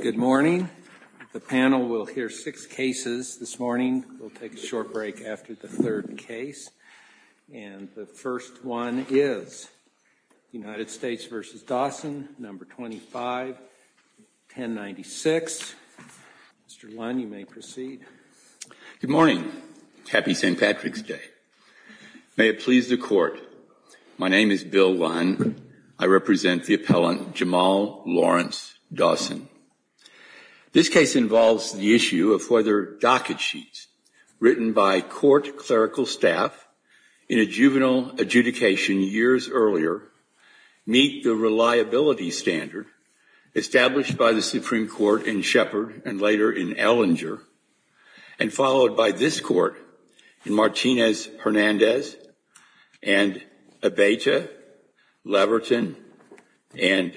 Good morning. The panel will hear six cases this morning. We'll take a short break after the third case. And the first one is United States v. Dawson, No. 25, 1096. Mr. Lund, you may proceed. Good morning. Happy St. Patrick's Day. May it please the Court, my name is Bill Lund. I represent the appellant Jamal Lawrence Dawson. This case involves the issue of whether docket sheets written by court clerical staff in a juvenile adjudication years earlier meet the reliability standard established by the Supreme Court in Shepard and later in Ellinger and followed by this Court in Martinez-Hernandez and Abeyta, Leverton and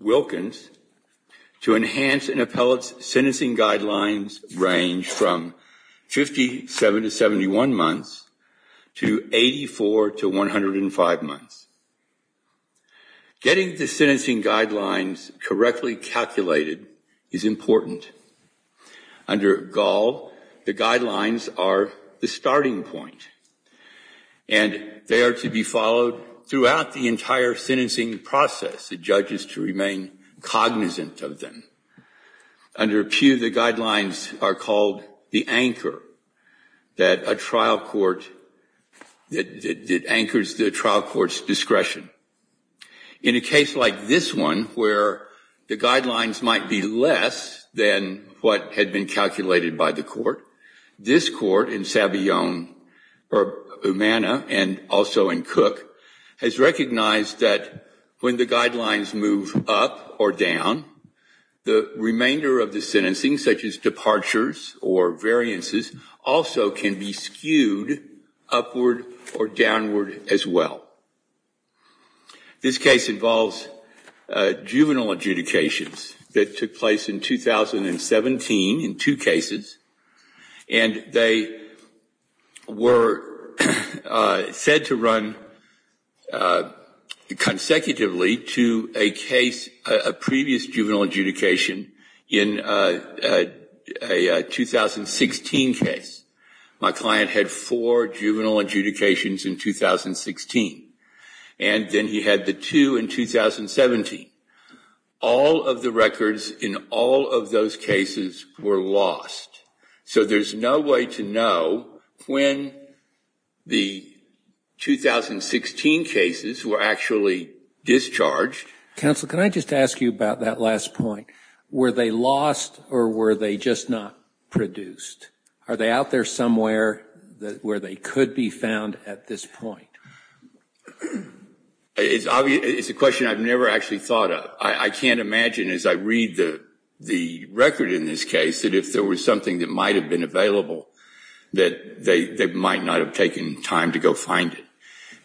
Wilkins to enhance an appellate's sentencing guidelines range from 57 to 71 months to 84 to 105 months. Getting the sentencing guidelines correctly calculated is important. Under Gall, the guidelines are the starting point. And they are to be followed throughout the entire sentencing process. The judge is to remain cognizant of them. Under Pew, the guidelines are called the anchor that a trial court that anchors the trial court's discretion. In a case like this one where the guidelines might be less than what had been calculated by the court, this court in Savillon-Umana and also in Cook has recognized that when the guidelines move up or down, the remainder of the sentencing such as departures or variances also can be skewed upward or downward as well. This case involves juvenile adjudications that took place in 2017 in two cases. And they were said to run consecutively to a case, a previous juvenile adjudication in a 2016 case. My client had four juvenile adjudications in 2016. And then he had the two in 2017. All of the records in all of those cases were lost. So there's no way to know when the 2016 cases were actually discharged. Counsel, can I just ask you about that last point? Were they lost or were they just not produced? Are they out there somewhere where they could be found at this point? It's a question I've never actually thought of. I can't imagine as I read the record in this case that if there was something that might have been available that they might not have taken time to go find it.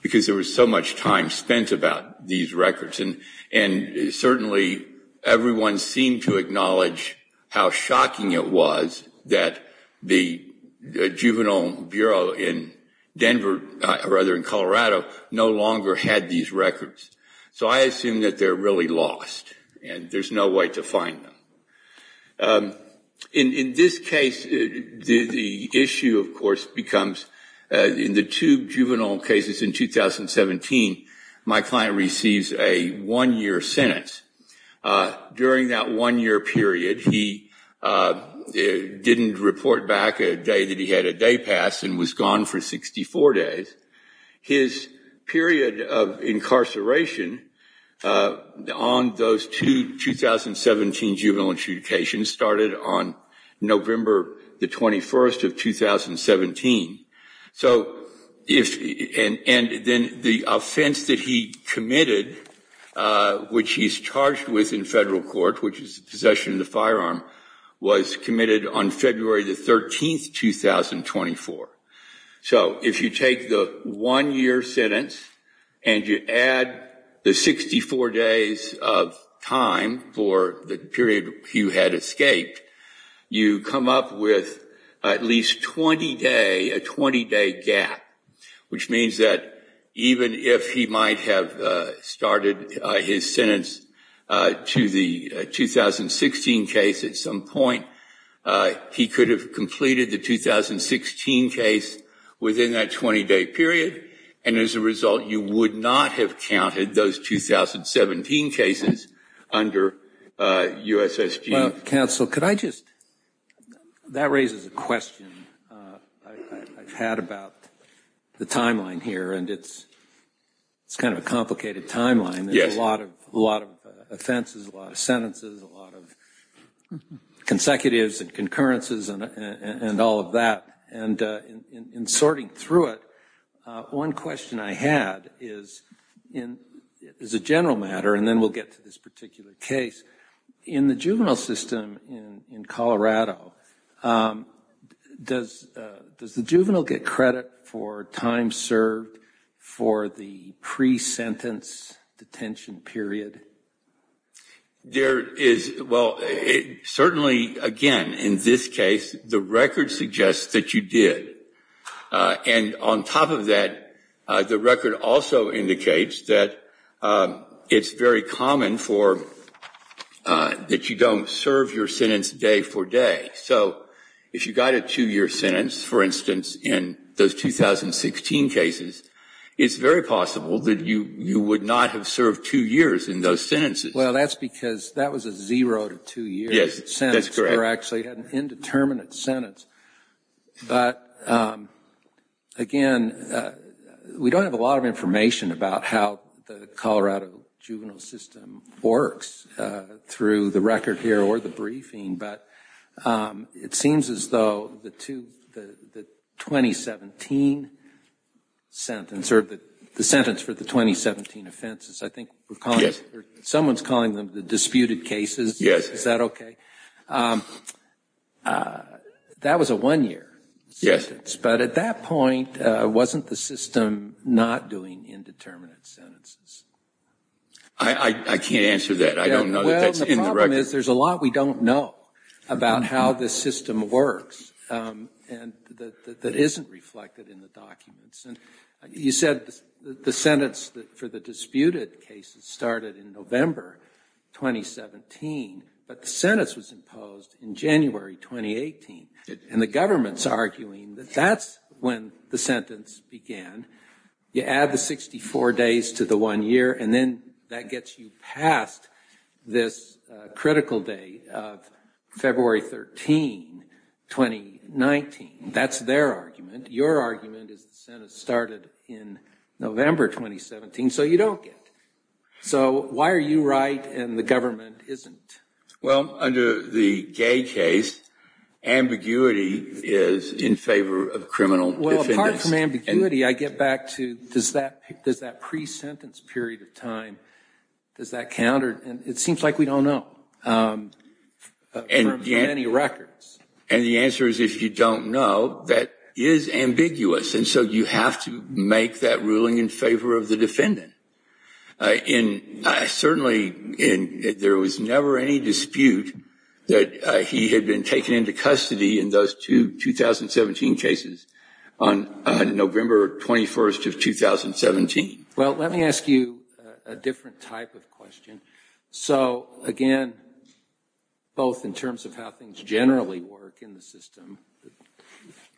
Because there was so much time spent about these records. And certainly everyone seemed to acknowledge how shocking it was that the juvenile bureau in Denver, or rather in Colorado, no longer had these records. So I assume that they're really lost and there's no way to find them. In this case, the issue, of course, becomes in the two juvenile cases in 2017, my client receives a one-year sentence. During that one-year period, he didn't report back a day that he had a day pass and was gone for 64 days. His period of incarceration on those two 2017 juvenile intubations started on November the 21st of 2017. And then the offense that he committed, which he's charged with in federal court, which is possession of the firearm, was committed on February the 13th, 2024. So if you take the one-year sentence and you add the 64 days of time for the period he had escaped, you come up with at least 20-day, a 20-day gap. Which means that even if he might have started his sentence to the 2016 case at some point, he could have completed the 2016 case within that 20-day period. And as a result, you would not have counted those 2017 cases under USSG. Counsel, could I just, that raises a question I've had about the timeline here, and it's kind of a complicated timeline. There's a lot of offenses, a lot of sentences, a lot of consecutives and concurrences and all of that. And in sorting through it, one question I had is a general matter, and then we'll get to this particular case. In the juvenile system in Colorado, does the juvenile get credit for time served for the pre-sentence detention period? There is, well, certainly, again, in this case, the record suggests that you did. And on top of that, the record also indicates that it's very common for, that you don't serve your sentence day for day. So if you got a two-year sentence, for instance, in those 2016 cases, it's very possible that you would not have served two years in those sentences. Well, that's because that was a zero-to-two-year sentence. Yes, that's correct. Or actually an indeterminate sentence. But again, we don't have a lot of information about how the Colorado juvenile system works through the 2017 offenses. I think someone's calling them the disputed cases. Is that okay? That was a one-year sentence. Yes. But at that point, wasn't the system not doing indeterminate sentences? I can't answer that. I don't know that that's in the record. The problem is there's a lot we don't know about how the system works that isn't reflected in the documents. And you said the sentence for the disputed cases started in November 2017, but the sentence was imposed in January 2018. And the government's arguing that that's when the sentence began. You add the 64 days to the one year, and then that gets you past this critical day of February 13, 2019. That's their argument. Your argument is the sentence started in November 2017, so you don't get it. So why are you right and the government isn't? Well, under the Gay case, ambiguity is in favor of criminal defendants. Well, apart from ambiguity, I get back to, does that pre-sentence period of time, does that count? And it seems like we don't know from any records. And the answer is if you don't know, that is ambiguous. And so you have to make that ruling in favor of the defendant. And certainly there was never any dispute that he had been taken into custody in those two 2017 cases on November 21st of 2017. Well, let me ask you a different type of question. So again, both in terms of how things generally work in the system,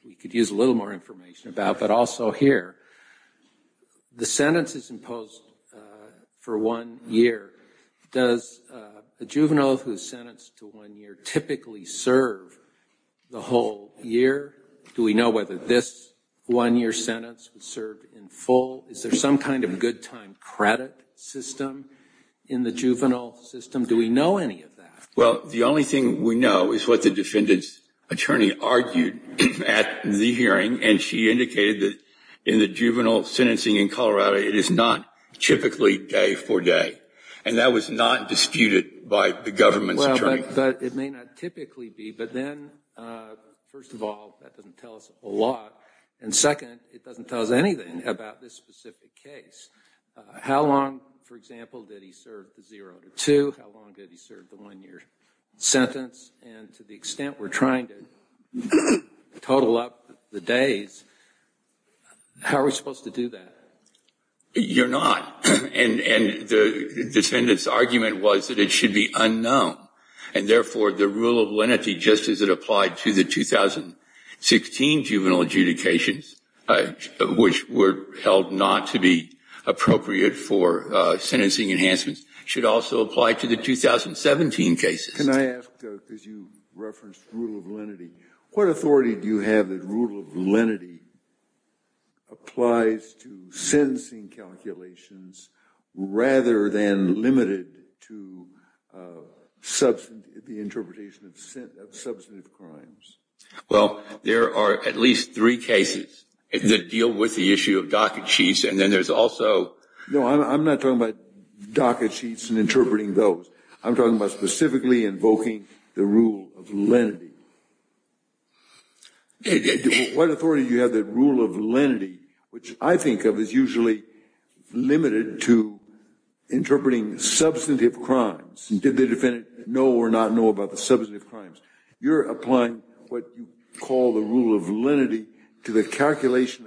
we could use a little more information about, but also here. The sentence is imposed for one year. Does a juvenile who is sentenced to one year typically serve the whole year? Do we know whether this one year sentence would serve in full? Is there some kind of good time credit system in the juvenile system? Do we know any of that? Well, the only thing we know is what the defendant's attorney argued at the hearing, and she indicated that in the juvenile sentencing in Colorado, it is not typically day for day. And that was not disputed by the government's attorney. But it may not typically be. But then, first of all, that doesn't tell us a lot. And second, it doesn't tell us anything about this specific case. How long, for example, did he serve the zero to two? How long did he serve the one year sentence? And to the extent we're trying to total up the days, how are we supposed to do that? You're not. And the defendant's argument was that it should be unknown. And therefore, the rule of lenity, just as it applied to the 2016 juvenile adjudications, which were held not to be appropriate for sentencing enhancements, should also apply to the 2017 cases. Can I ask, because you referenced rule of lenity, what authority do you have that rule of lenity applies to sentencing calculations rather than limited to the interpretation of substantive crimes? Well, there are at least three cases that deal with the issue of docket sheets, and then there's also... No, I'm not talking about docket sheets and interpreting those. I'm talking about specifically invoking the rule of lenity. What authority do you have that rule of lenity, which I think of as usually limited to interpreting substantive crimes? Did the defendant know or not know about the substantive crimes? You're applying what you call the rule of lenity to the calculation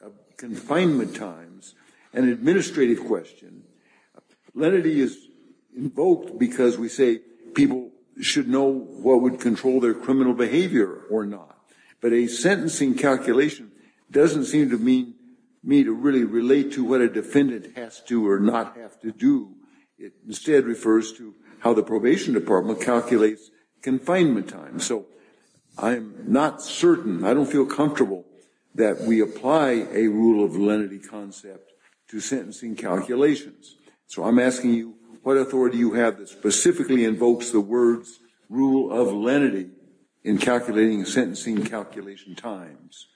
of confinement times. An administrative question. Lenity is invoked because we say people should know what would control their criminal behavior or not. But a sentencing calculation doesn't seem to mean me to really relate to what a defendant has to or not have to do. It instead refers to how the probation department calculates confinement times. So I'm not certain, I don't feel comfortable that we apply a rule of lenity concept to sentencing calculations. So I'm asking you, what authority do you have that specifically invokes the words rule of lenity in calculating sentencing calculation times?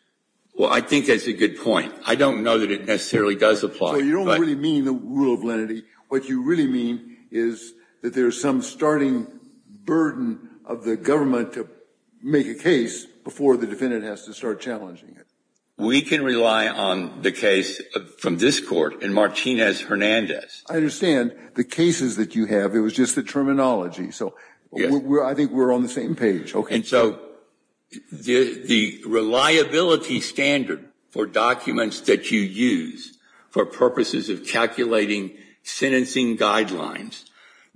Well, I think that's a good point. I don't know that it necessarily does apply. So you don't really mean the rule of lenity. What you really mean is that there's some starting burden of the government to make a case before the defendant has to start challenging it. We can rely on the case from this court in Martinez-Hernandez. I understand. The cases that you have, it was just the terminology. So I think we're on the same page. And so the reliability standard for documents that you use for purposes of calculating sentencing guidelines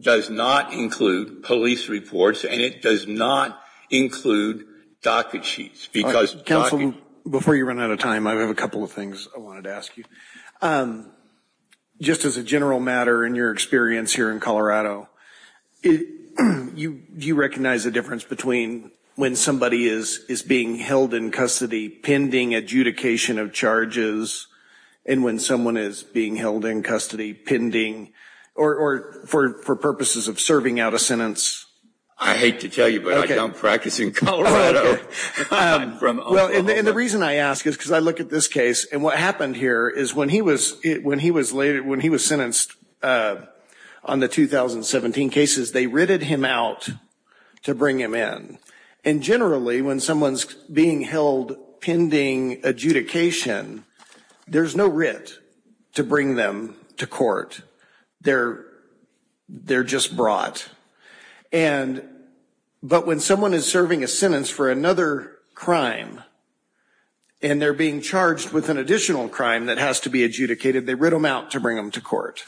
does not include police reports, and it does not include docket sheets. Counsel, before you run out of time, I have a couple of things I wanted to ask you. Just as a general matter in your experience here in Colorado, do you recognize the difference between when somebody is being held in custody pending adjudication of charges and when someone is being held in custody pending or for purposes of serving out a sentence? I hate to tell you, but I don't practice in Colorado. Well, and the reason I ask is because I look at this case, and what happened here is when he was sentenced on the 2017 cases, they writted him out to bring him in. And generally, when someone's being held pending adjudication, there's no writ to bring them to court. They're just brought. But when someone is serving a sentence for another crime, and they're being charged with an additional crime that has to be adjudicated, they writ them out to bring them to court.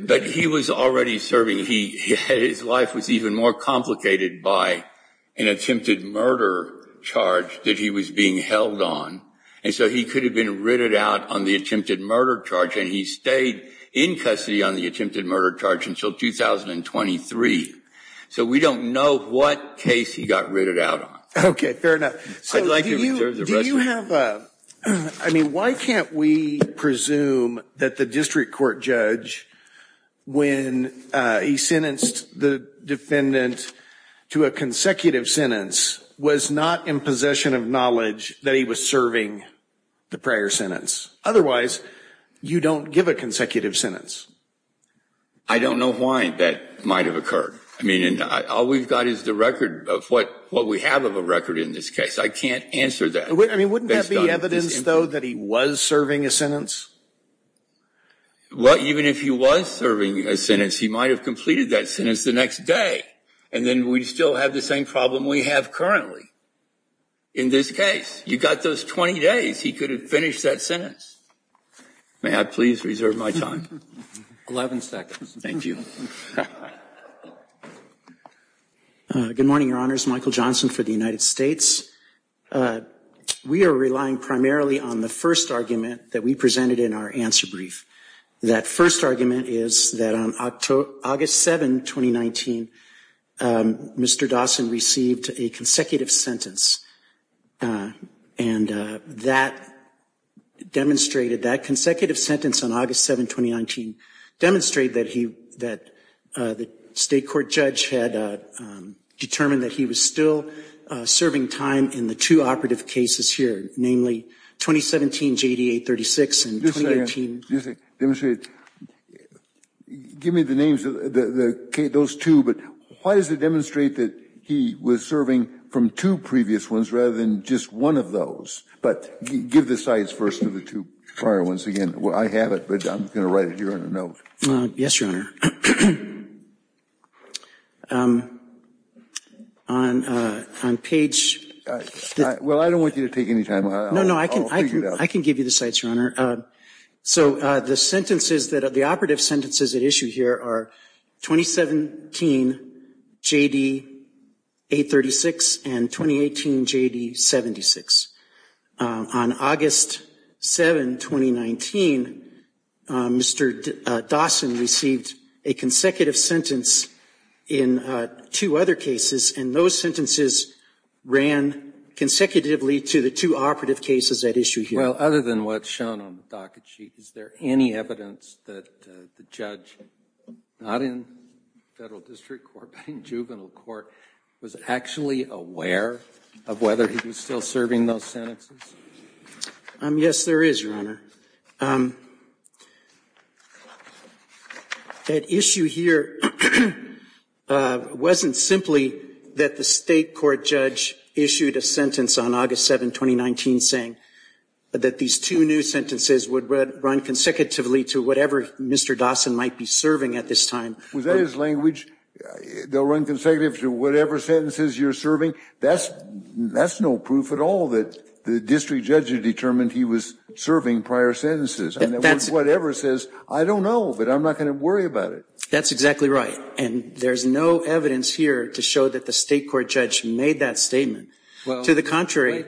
But he was already serving. His life was even more complicated by an attempted murder charge that he was being held on. And so he could have been writted out on the attempted murder charge, and he stayed in custody on the attempted murder charge until 2023. So we don't know what case he got writted out on. Okay, fair enough. So do you have a – I mean, why can't we presume that the district court judge, when he sentenced the defendant to a consecutive sentence, was not in possession of knowledge that he was serving the prior sentence? Otherwise, you don't give a consecutive sentence. I don't know why that might have occurred. I mean, all we've got is the record of what we have of a record in this case. I can't answer that. I mean, wouldn't that be evidence, though, that he was serving a sentence? Well, even if he was serving a sentence, he might have completed that sentence the next day, and then we'd still have the same problem we have currently in this case. You've got those 20 days. He could have finished that sentence. May I please reserve my time? 11 seconds. Thank you. Good morning, Your Honors. Michael Johnson for the United States. We are relying primarily on the first argument that we presented in our answer brief. That first argument is that on August 7, 2019, Mr. Dawson received a consecutive sentence, and that demonstrated, that consecutive sentence on August 7, 2019, demonstrated that the state court judge had determined that he was still serving time in the two operative cases here, namely 2017 JDA 36 and 2018. Just a second. Just a second. Demonstrate it. Give me the names of those two, but why does it demonstrate that he was serving from two previous ones rather than just one of those? But give the sides first of the two prior ones again. I have it, but I'm going to write it here in a note. Yes, Your Honor. On page. Well, I don't want you to take any time. No, no, I can give you the sites, Your Honor. So the sentences that are the operative sentences at issue here are 2017 JDA 36 and 2018 JD 76. On August 7, 2019, Mr. Dawson received a consecutive sentence in two other cases, and those sentences ran consecutively to the two operative cases at issue here. Well, other than what's shown on the docket sheet, is there any evidence that the judge, not in federal district court but in juvenile court, was actually aware of whether he was still serving those sentences? Yes, there is, Your Honor. That issue here wasn't simply that the state court judge issued a sentence on August 7, 2019, saying that these two new sentences would run consecutively to whatever Mr. Dawson might be serving at this time. Was that his language? They'll run consecutively to whatever sentences you're serving? That's no proof at all that the district judge had determined he was serving prior sentences. Whatever it says, I don't know, but I'm not going to worry about it. That's exactly right. And there's no evidence here to show that the state court judge made that statement. To the contrary.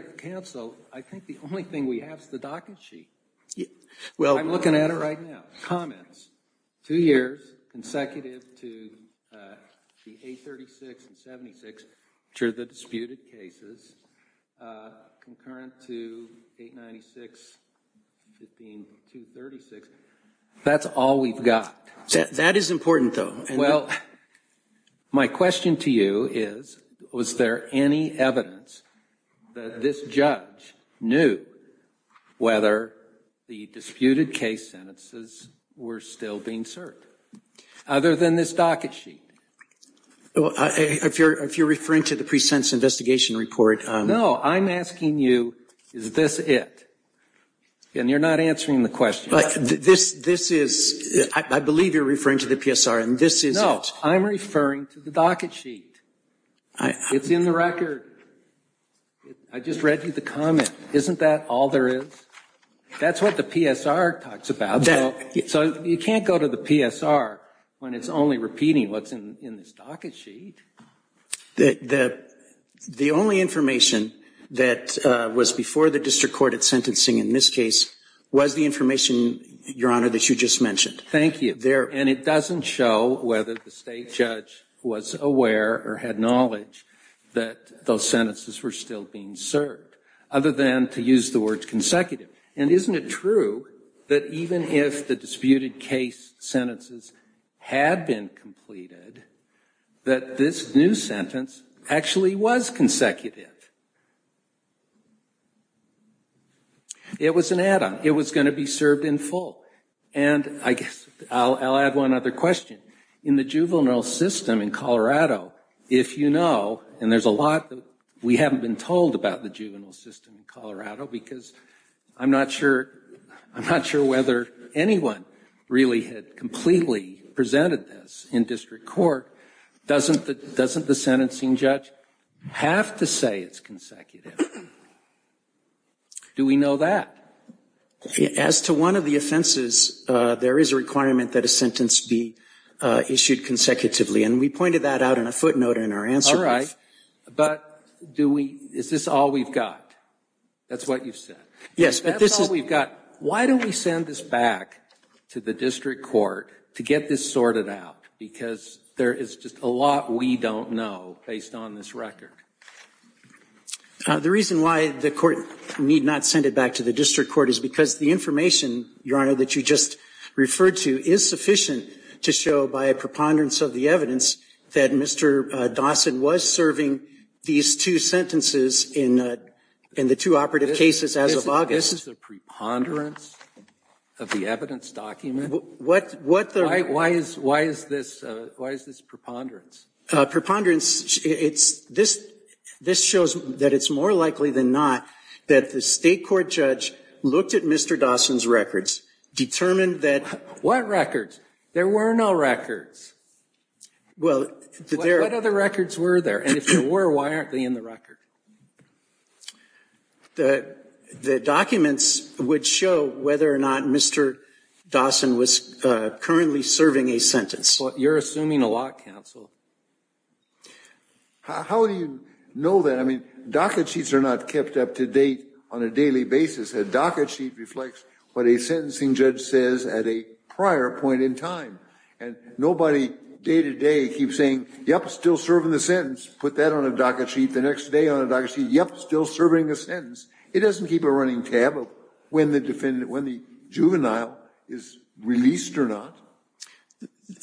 I think the only thing we have is the docket sheet. I'm looking at it right now. Comments, two years, consecutive to the 836 and 76, which are the disputed cases, concurrent to 896, 15, 236. That's all we've got. That is important, though. Well, my question to you is, was there any evidence that this judge knew whether the disputed case sentences were still being served? Other than this docket sheet. If you're referring to the pre-sentence investigation report. No, I'm asking you, is this it? And you're not answering the question. This is, I believe you're referring to the PSR. No, I'm referring to the docket sheet. It's in the record. I just read you the comment. Isn't that all there is? That's what the PSR talks about. So you can't go to the PSR when it's only repeating what's in this docket sheet. The only information that was before the district court at sentencing in this case was the information, Your Honor, that you just mentioned. Thank you. And it doesn't show whether the state judge was aware or had knowledge that those sentences were still being served. Other than to use the word consecutive. And isn't it true that even if the disputed case sentences had been completed, that this new sentence actually was consecutive? It was an add-on. It was going to be served in full. And I guess I'll add one other question. In the juvenile system in Colorado, if you know, and there's a lot that we haven't been told about the juvenile system in Colorado because I'm not sure whether anyone really had completely presented this in district court, doesn't the sentencing judge have to say it's consecutive? Do we know that? As to one of the offenses, there is a requirement that a sentence be issued consecutively. And we pointed that out in a footnote in our answer brief. All right. But is this all we've got? That's what you said. Yes, but this is. That's all we've got. Why don't we send this back to the district court to get this sorted out? Because there is just a lot we don't know based on this record. The reason why the court need not send it back to the district court is because the information, Your Honor, that you just referred to is sufficient to show by a preponderance of the evidence that Mr. Dawson was serving these two sentences in the two operative cases as of August. This is a preponderance of the evidence document? Why is this preponderance? Preponderance, this shows that it's more likely than not that the state court judge looked at Mr. Dawson's records, determined that. What records? There were no records. What other records were there? And if there were, why aren't they in the record? The documents would show whether or not Mr. Dawson was currently serving a sentence. You're assuming a lot, counsel. How do you know that? I mean, docket sheets are not kept up to date on a daily basis. A docket sheet reflects what a sentencing judge says at a prior point in time. And nobody day to day keeps saying, yep, still serving the sentence, put that on a docket sheet, the next day on a docket sheet, yep, still serving the sentence. It doesn't keep a running tab of when the juvenile is released or not.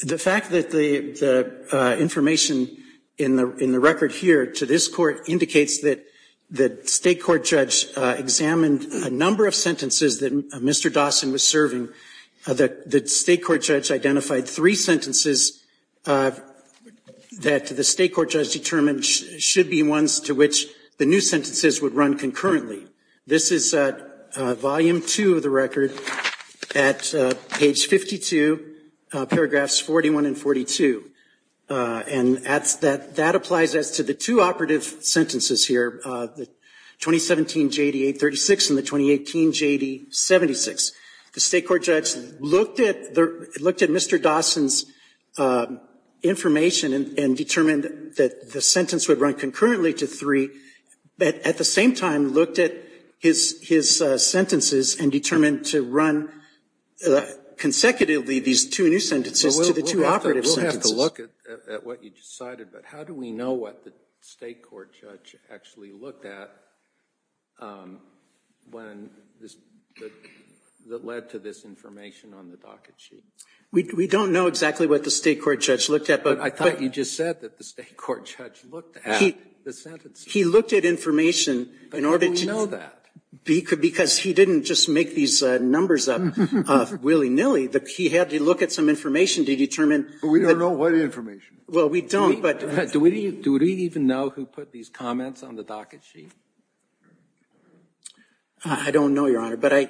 The fact that the information in the record here to this court indicates that the state court judge examined a number of sentences that Mr. Dawson was serving, that the state court judge identified three sentences that the state court judge determined should be ones to which the new sentences would run concurrently. This is volume two of the record at page 52, paragraphs 41 and 42. And that applies as to the two operative sentences here, the 2017 J.D. 836 and the 2018 J.D. 76. The state court judge looked at Mr. Dawson's information and determined that the sentence would run concurrently to three, but at the same time looked at his sentences and determined to run consecutively these two new sentences to the two operative sentences. We'll have to look at what you just cited, but how do we know what the state court judge actually looked at when this, that led to this information on the docket sheet? We don't know exactly what the state court judge looked at, but. I thought you just said that the state court judge looked at the sentences. He looked at information in order to. But how do we know that? Because he didn't just make these numbers up willy-nilly. He had to look at some information to determine. But we don't know what information. Well, we don't, but. Do we even know who put these comments on the docket sheet? I don't know, Your Honor. But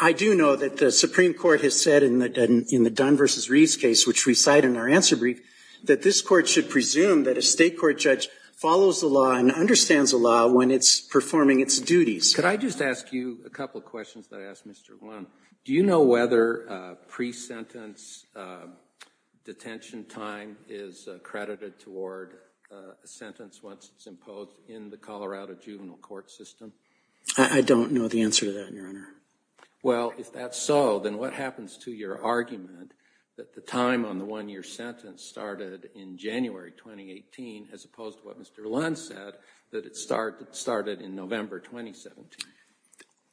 I do know that the Supreme Court has said in the Dunn v. Reeves case, which we cite in our answer brief, that this Court should presume that a state court judge follows the law and understands the law when it's performing its duties. Could I just ask you a couple of questions that I asked Mr. Lund? Do you know whether pre-sentence detention time is credited toward a sentence once it's imposed in the Colorado juvenile court system? I don't know the answer to that, Your Honor. Well, if that's so, then what happens to your argument that the time on the one-year sentence started in January 2018 as opposed to what Mr. Lund said, that it started in November 2017?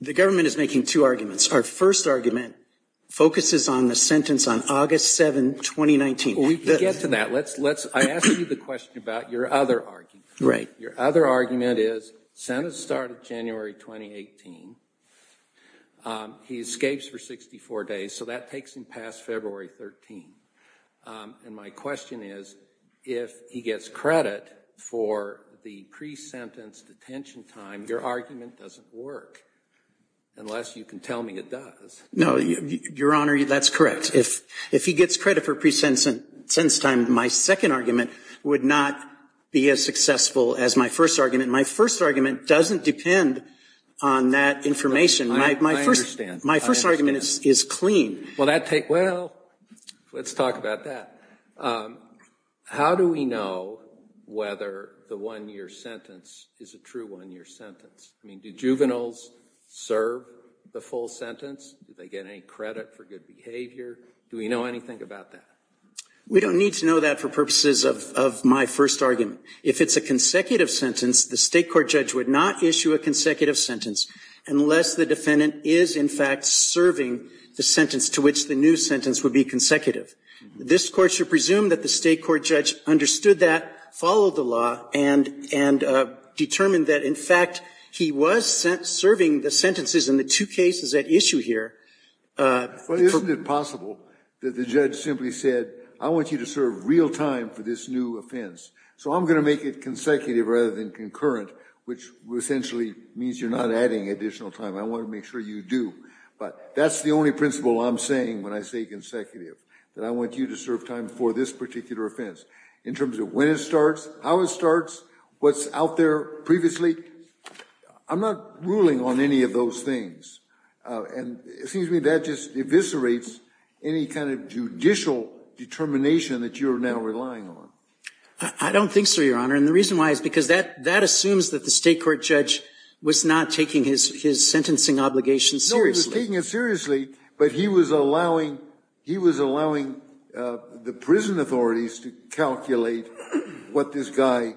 The government is making two arguments. Our first argument focuses on the sentence on August 7, 2019. We can get to that. I asked you the question about your other argument. Right. Your other argument is, sentence started January 2018. He escapes for 64 days. So that takes him past February 13. And my question is, if he gets credit for the pre-sentence detention time, your argument doesn't work, unless you can tell me it does. No, Your Honor, that's correct. If he gets credit for pre-sentence time, my second argument would not be as successful as my first argument. My first argument doesn't depend on that information. I understand. My first argument is clean. Well, let's talk about that. How do we know whether the one-year sentence is a true one-year sentence? I mean, do juveniles serve the full sentence? Do they get any credit for good behavior? Do we know anything about that? We don't need to know that for purposes of my first argument. If it's a consecutive sentence, the state court judge would not issue a consecutive sentence unless the defendant is, in fact, serving the sentence to which the new sentence would be consecutive. This Court should presume that the state court judge understood that, followed the law, and determined that, in fact, he was serving the sentences in the two cases at issue here. But isn't it possible that the judge simply said, I want you to serve real time for this new offense, so I'm going to make it consecutive rather than concurrent, which essentially means you're not adding additional time. I want to make sure you do. But that's the only principle I'm saying when I say consecutive, that I want you to serve time for this particular offense. In terms of when it starts, how it starts, what's out there previously, I'm not ruling on any of those things. And it seems to me that just eviscerates any kind of judicial determination that you're now relying on. I don't think so, Your Honor. And the reason why is because that assumes that the state court judge was not taking his sentencing obligation seriously. No, he was taking it seriously, but he was allowing the prison authorities to calculate what this guy's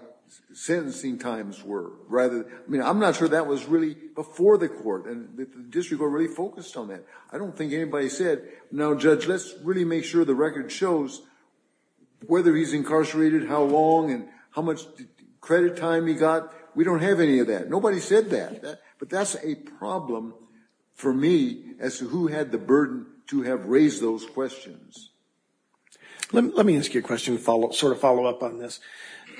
sentencing times were. I mean, I'm not sure that was really before the court, and the district already focused on that. I don't think anybody said, now, Judge, let's really make sure the record shows whether he's incarcerated, how long, and how much credit time he got. We don't have any of that. Nobody said that. But that's a problem for me as to who had the burden to have raised those questions. Let me ask you a question to sort of follow up on this.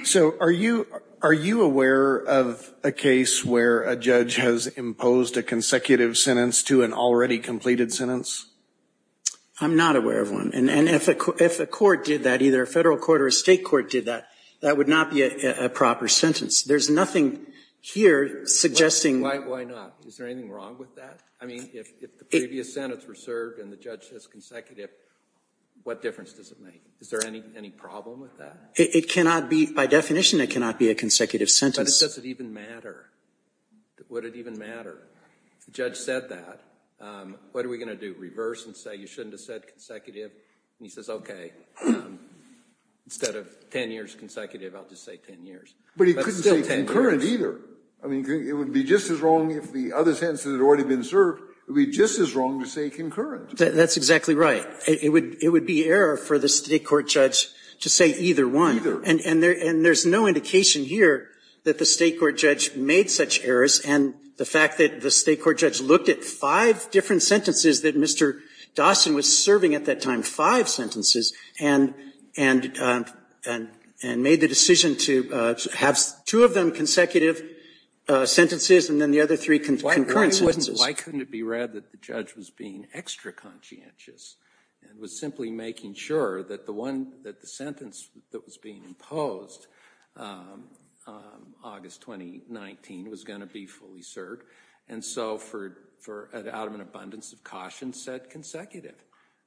So are you aware of a case where a judge has imposed a consecutive sentence to an already completed sentence? I'm not aware of one. And if a court did that, either a federal court or a state court did that, that would not be a proper sentence. There's nothing here suggesting. Why not? Is there anything wrong with that? I mean, if the previous sentence were served and the judge says consecutive, what difference does it make? Is there any problem with that? It cannot be. By definition, it cannot be a consecutive sentence. But does it even matter? Would it even matter? If the judge said that, what are we going to do? Do we reverse and say you shouldn't have said consecutive? And he says, OK, instead of 10 years consecutive, I'll just say 10 years. But it's still 10 years. But he couldn't say concurrent either. I mean, it would be just as wrong if the other sentence had already been served. It would be just as wrong to say concurrent. That's exactly right. It would be error for the state court judge to say either one. Either. And there's no indication here that the state court judge made such errors. And the fact that the state court judge looked at five different sentences that Mr. Dawson was serving at that time, five sentences, and made the decision to have two of them consecutive sentences and then the other three concurrent sentences. Why couldn't it be read that the judge was being extra conscientious and was simply making sure that the sentence that was being imposed, August 2019, was going to be fully served. And so out of an abundance of caution said consecutive.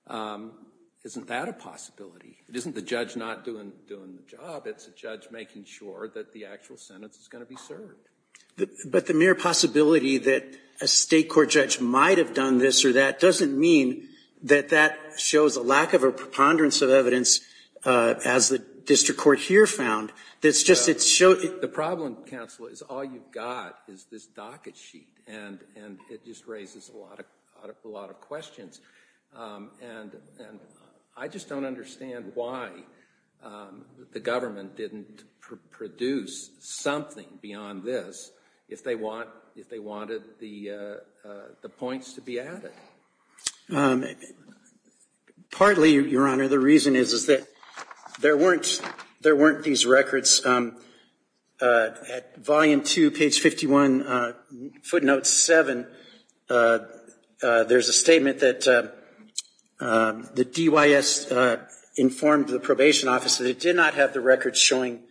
Isn't that a possibility? It isn't the judge not doing the job. It's a judge making sure that the actual sentence is going to be served. But the mere possibility that a state court judge might have done this or that doesn't mean that that shows a lack of a preponderance of evidence, as the district court here found. The problem, counsel, is all you've got is this docket sheet. And it just raises a lot of questions. And I just don't understand why the government didn't produce something beyond this if they wanted the points to be added. Partly, Your Honor, the reason is that there weren't these records. At volume 2, page 51, footnote 7, there's a statement that the DYS informed the probation office that it did not have the records showing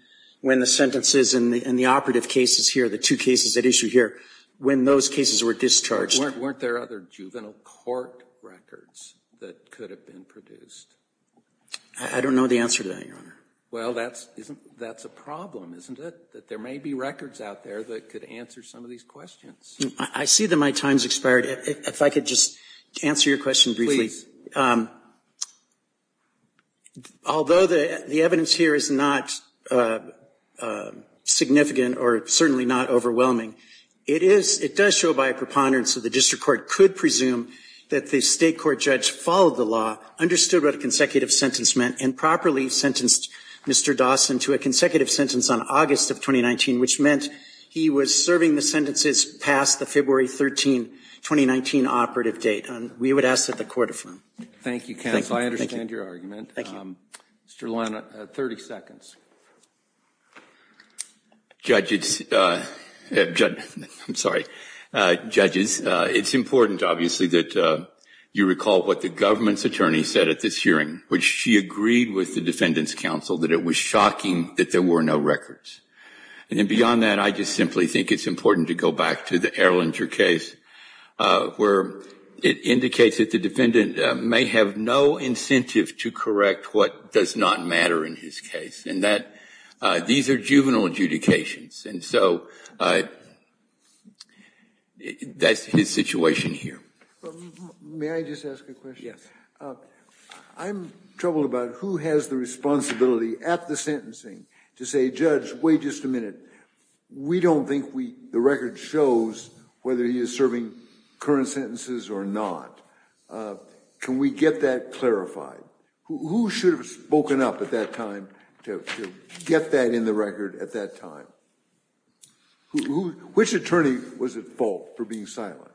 when the sentences and the operative cases here, the two cases at issue here, when those cases were discharged. Weren't there other juvenile court records that could have been produced? I don't know the answer to that, Your Honor. Well, that's a problem, isn't it? That there may be records out there that could answer some of these questions. I see that my time has expired. If I could just answer your question briefly. Please. Although the evidence here is not significant or certainly not overwhelming, it does show by a preponderance that the district court could presume that the state court judge followed the law, understood what a consecutive sentence meant, and properly sentenced Mr. Dawson to a consecutive sentence on August of 2019, which meant he was serving the sentences past the February 13, 2019 operative date. We would ask that the court affirm. Thank you, counsel. I understand your argument. Thank you. Mr. Luana, 30 seconds. Judges, I'm sorry. Judges, it's important, obviously, that you recall what the government's attorney said at this hearing, which she agreed with the defendant's counsel that it was shocking that there were no records. And then beyond that, I just simply think it's important to go back to the Erlanger case where it indicates that the defendant may have no incentive to correct what does not matter in his case. And these are juvenile adjudications. And so that's his situation here. May I just ask a question? I'm troubled about who has the responsibility at the sentencing to say, Judge, wait just a minute. We don't think the record shows whether he is serving current sentences or not. Can we get that clarified? Who should have spoken up at that time to get that in the record at that time? Which attorney was at fault for being silent?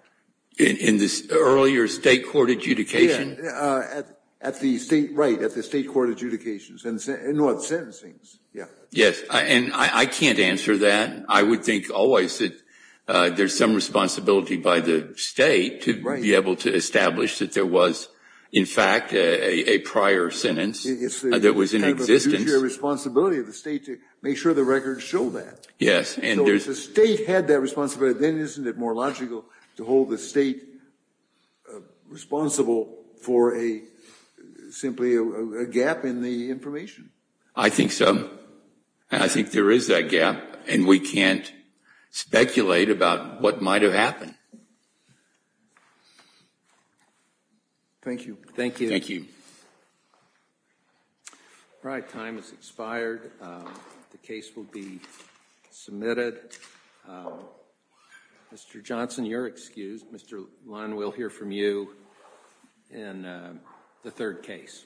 In the earlier state court adjudication? Right, at the state court adjudications. No, at the sentencing. Yes, and I can't answer that. I would think always that there's some responsibility by the state to be able to establish that there was, in fact, a prior sentence that was in existence. It's kind of a duty or responsibility of the state to make sure the records show that. Yes. So if the state had that responsibility, then isn't it more logical to hold the state responsible for simply a gap in the information? I think so, and I think there is that gap, and we can't speculate about what might have happened. Thank you. Thank you. All right, time has expired. The case will be submitted. Mr. Johnson, you're excused. Mr. Lund, we'll hear from you in the third case. Thank you.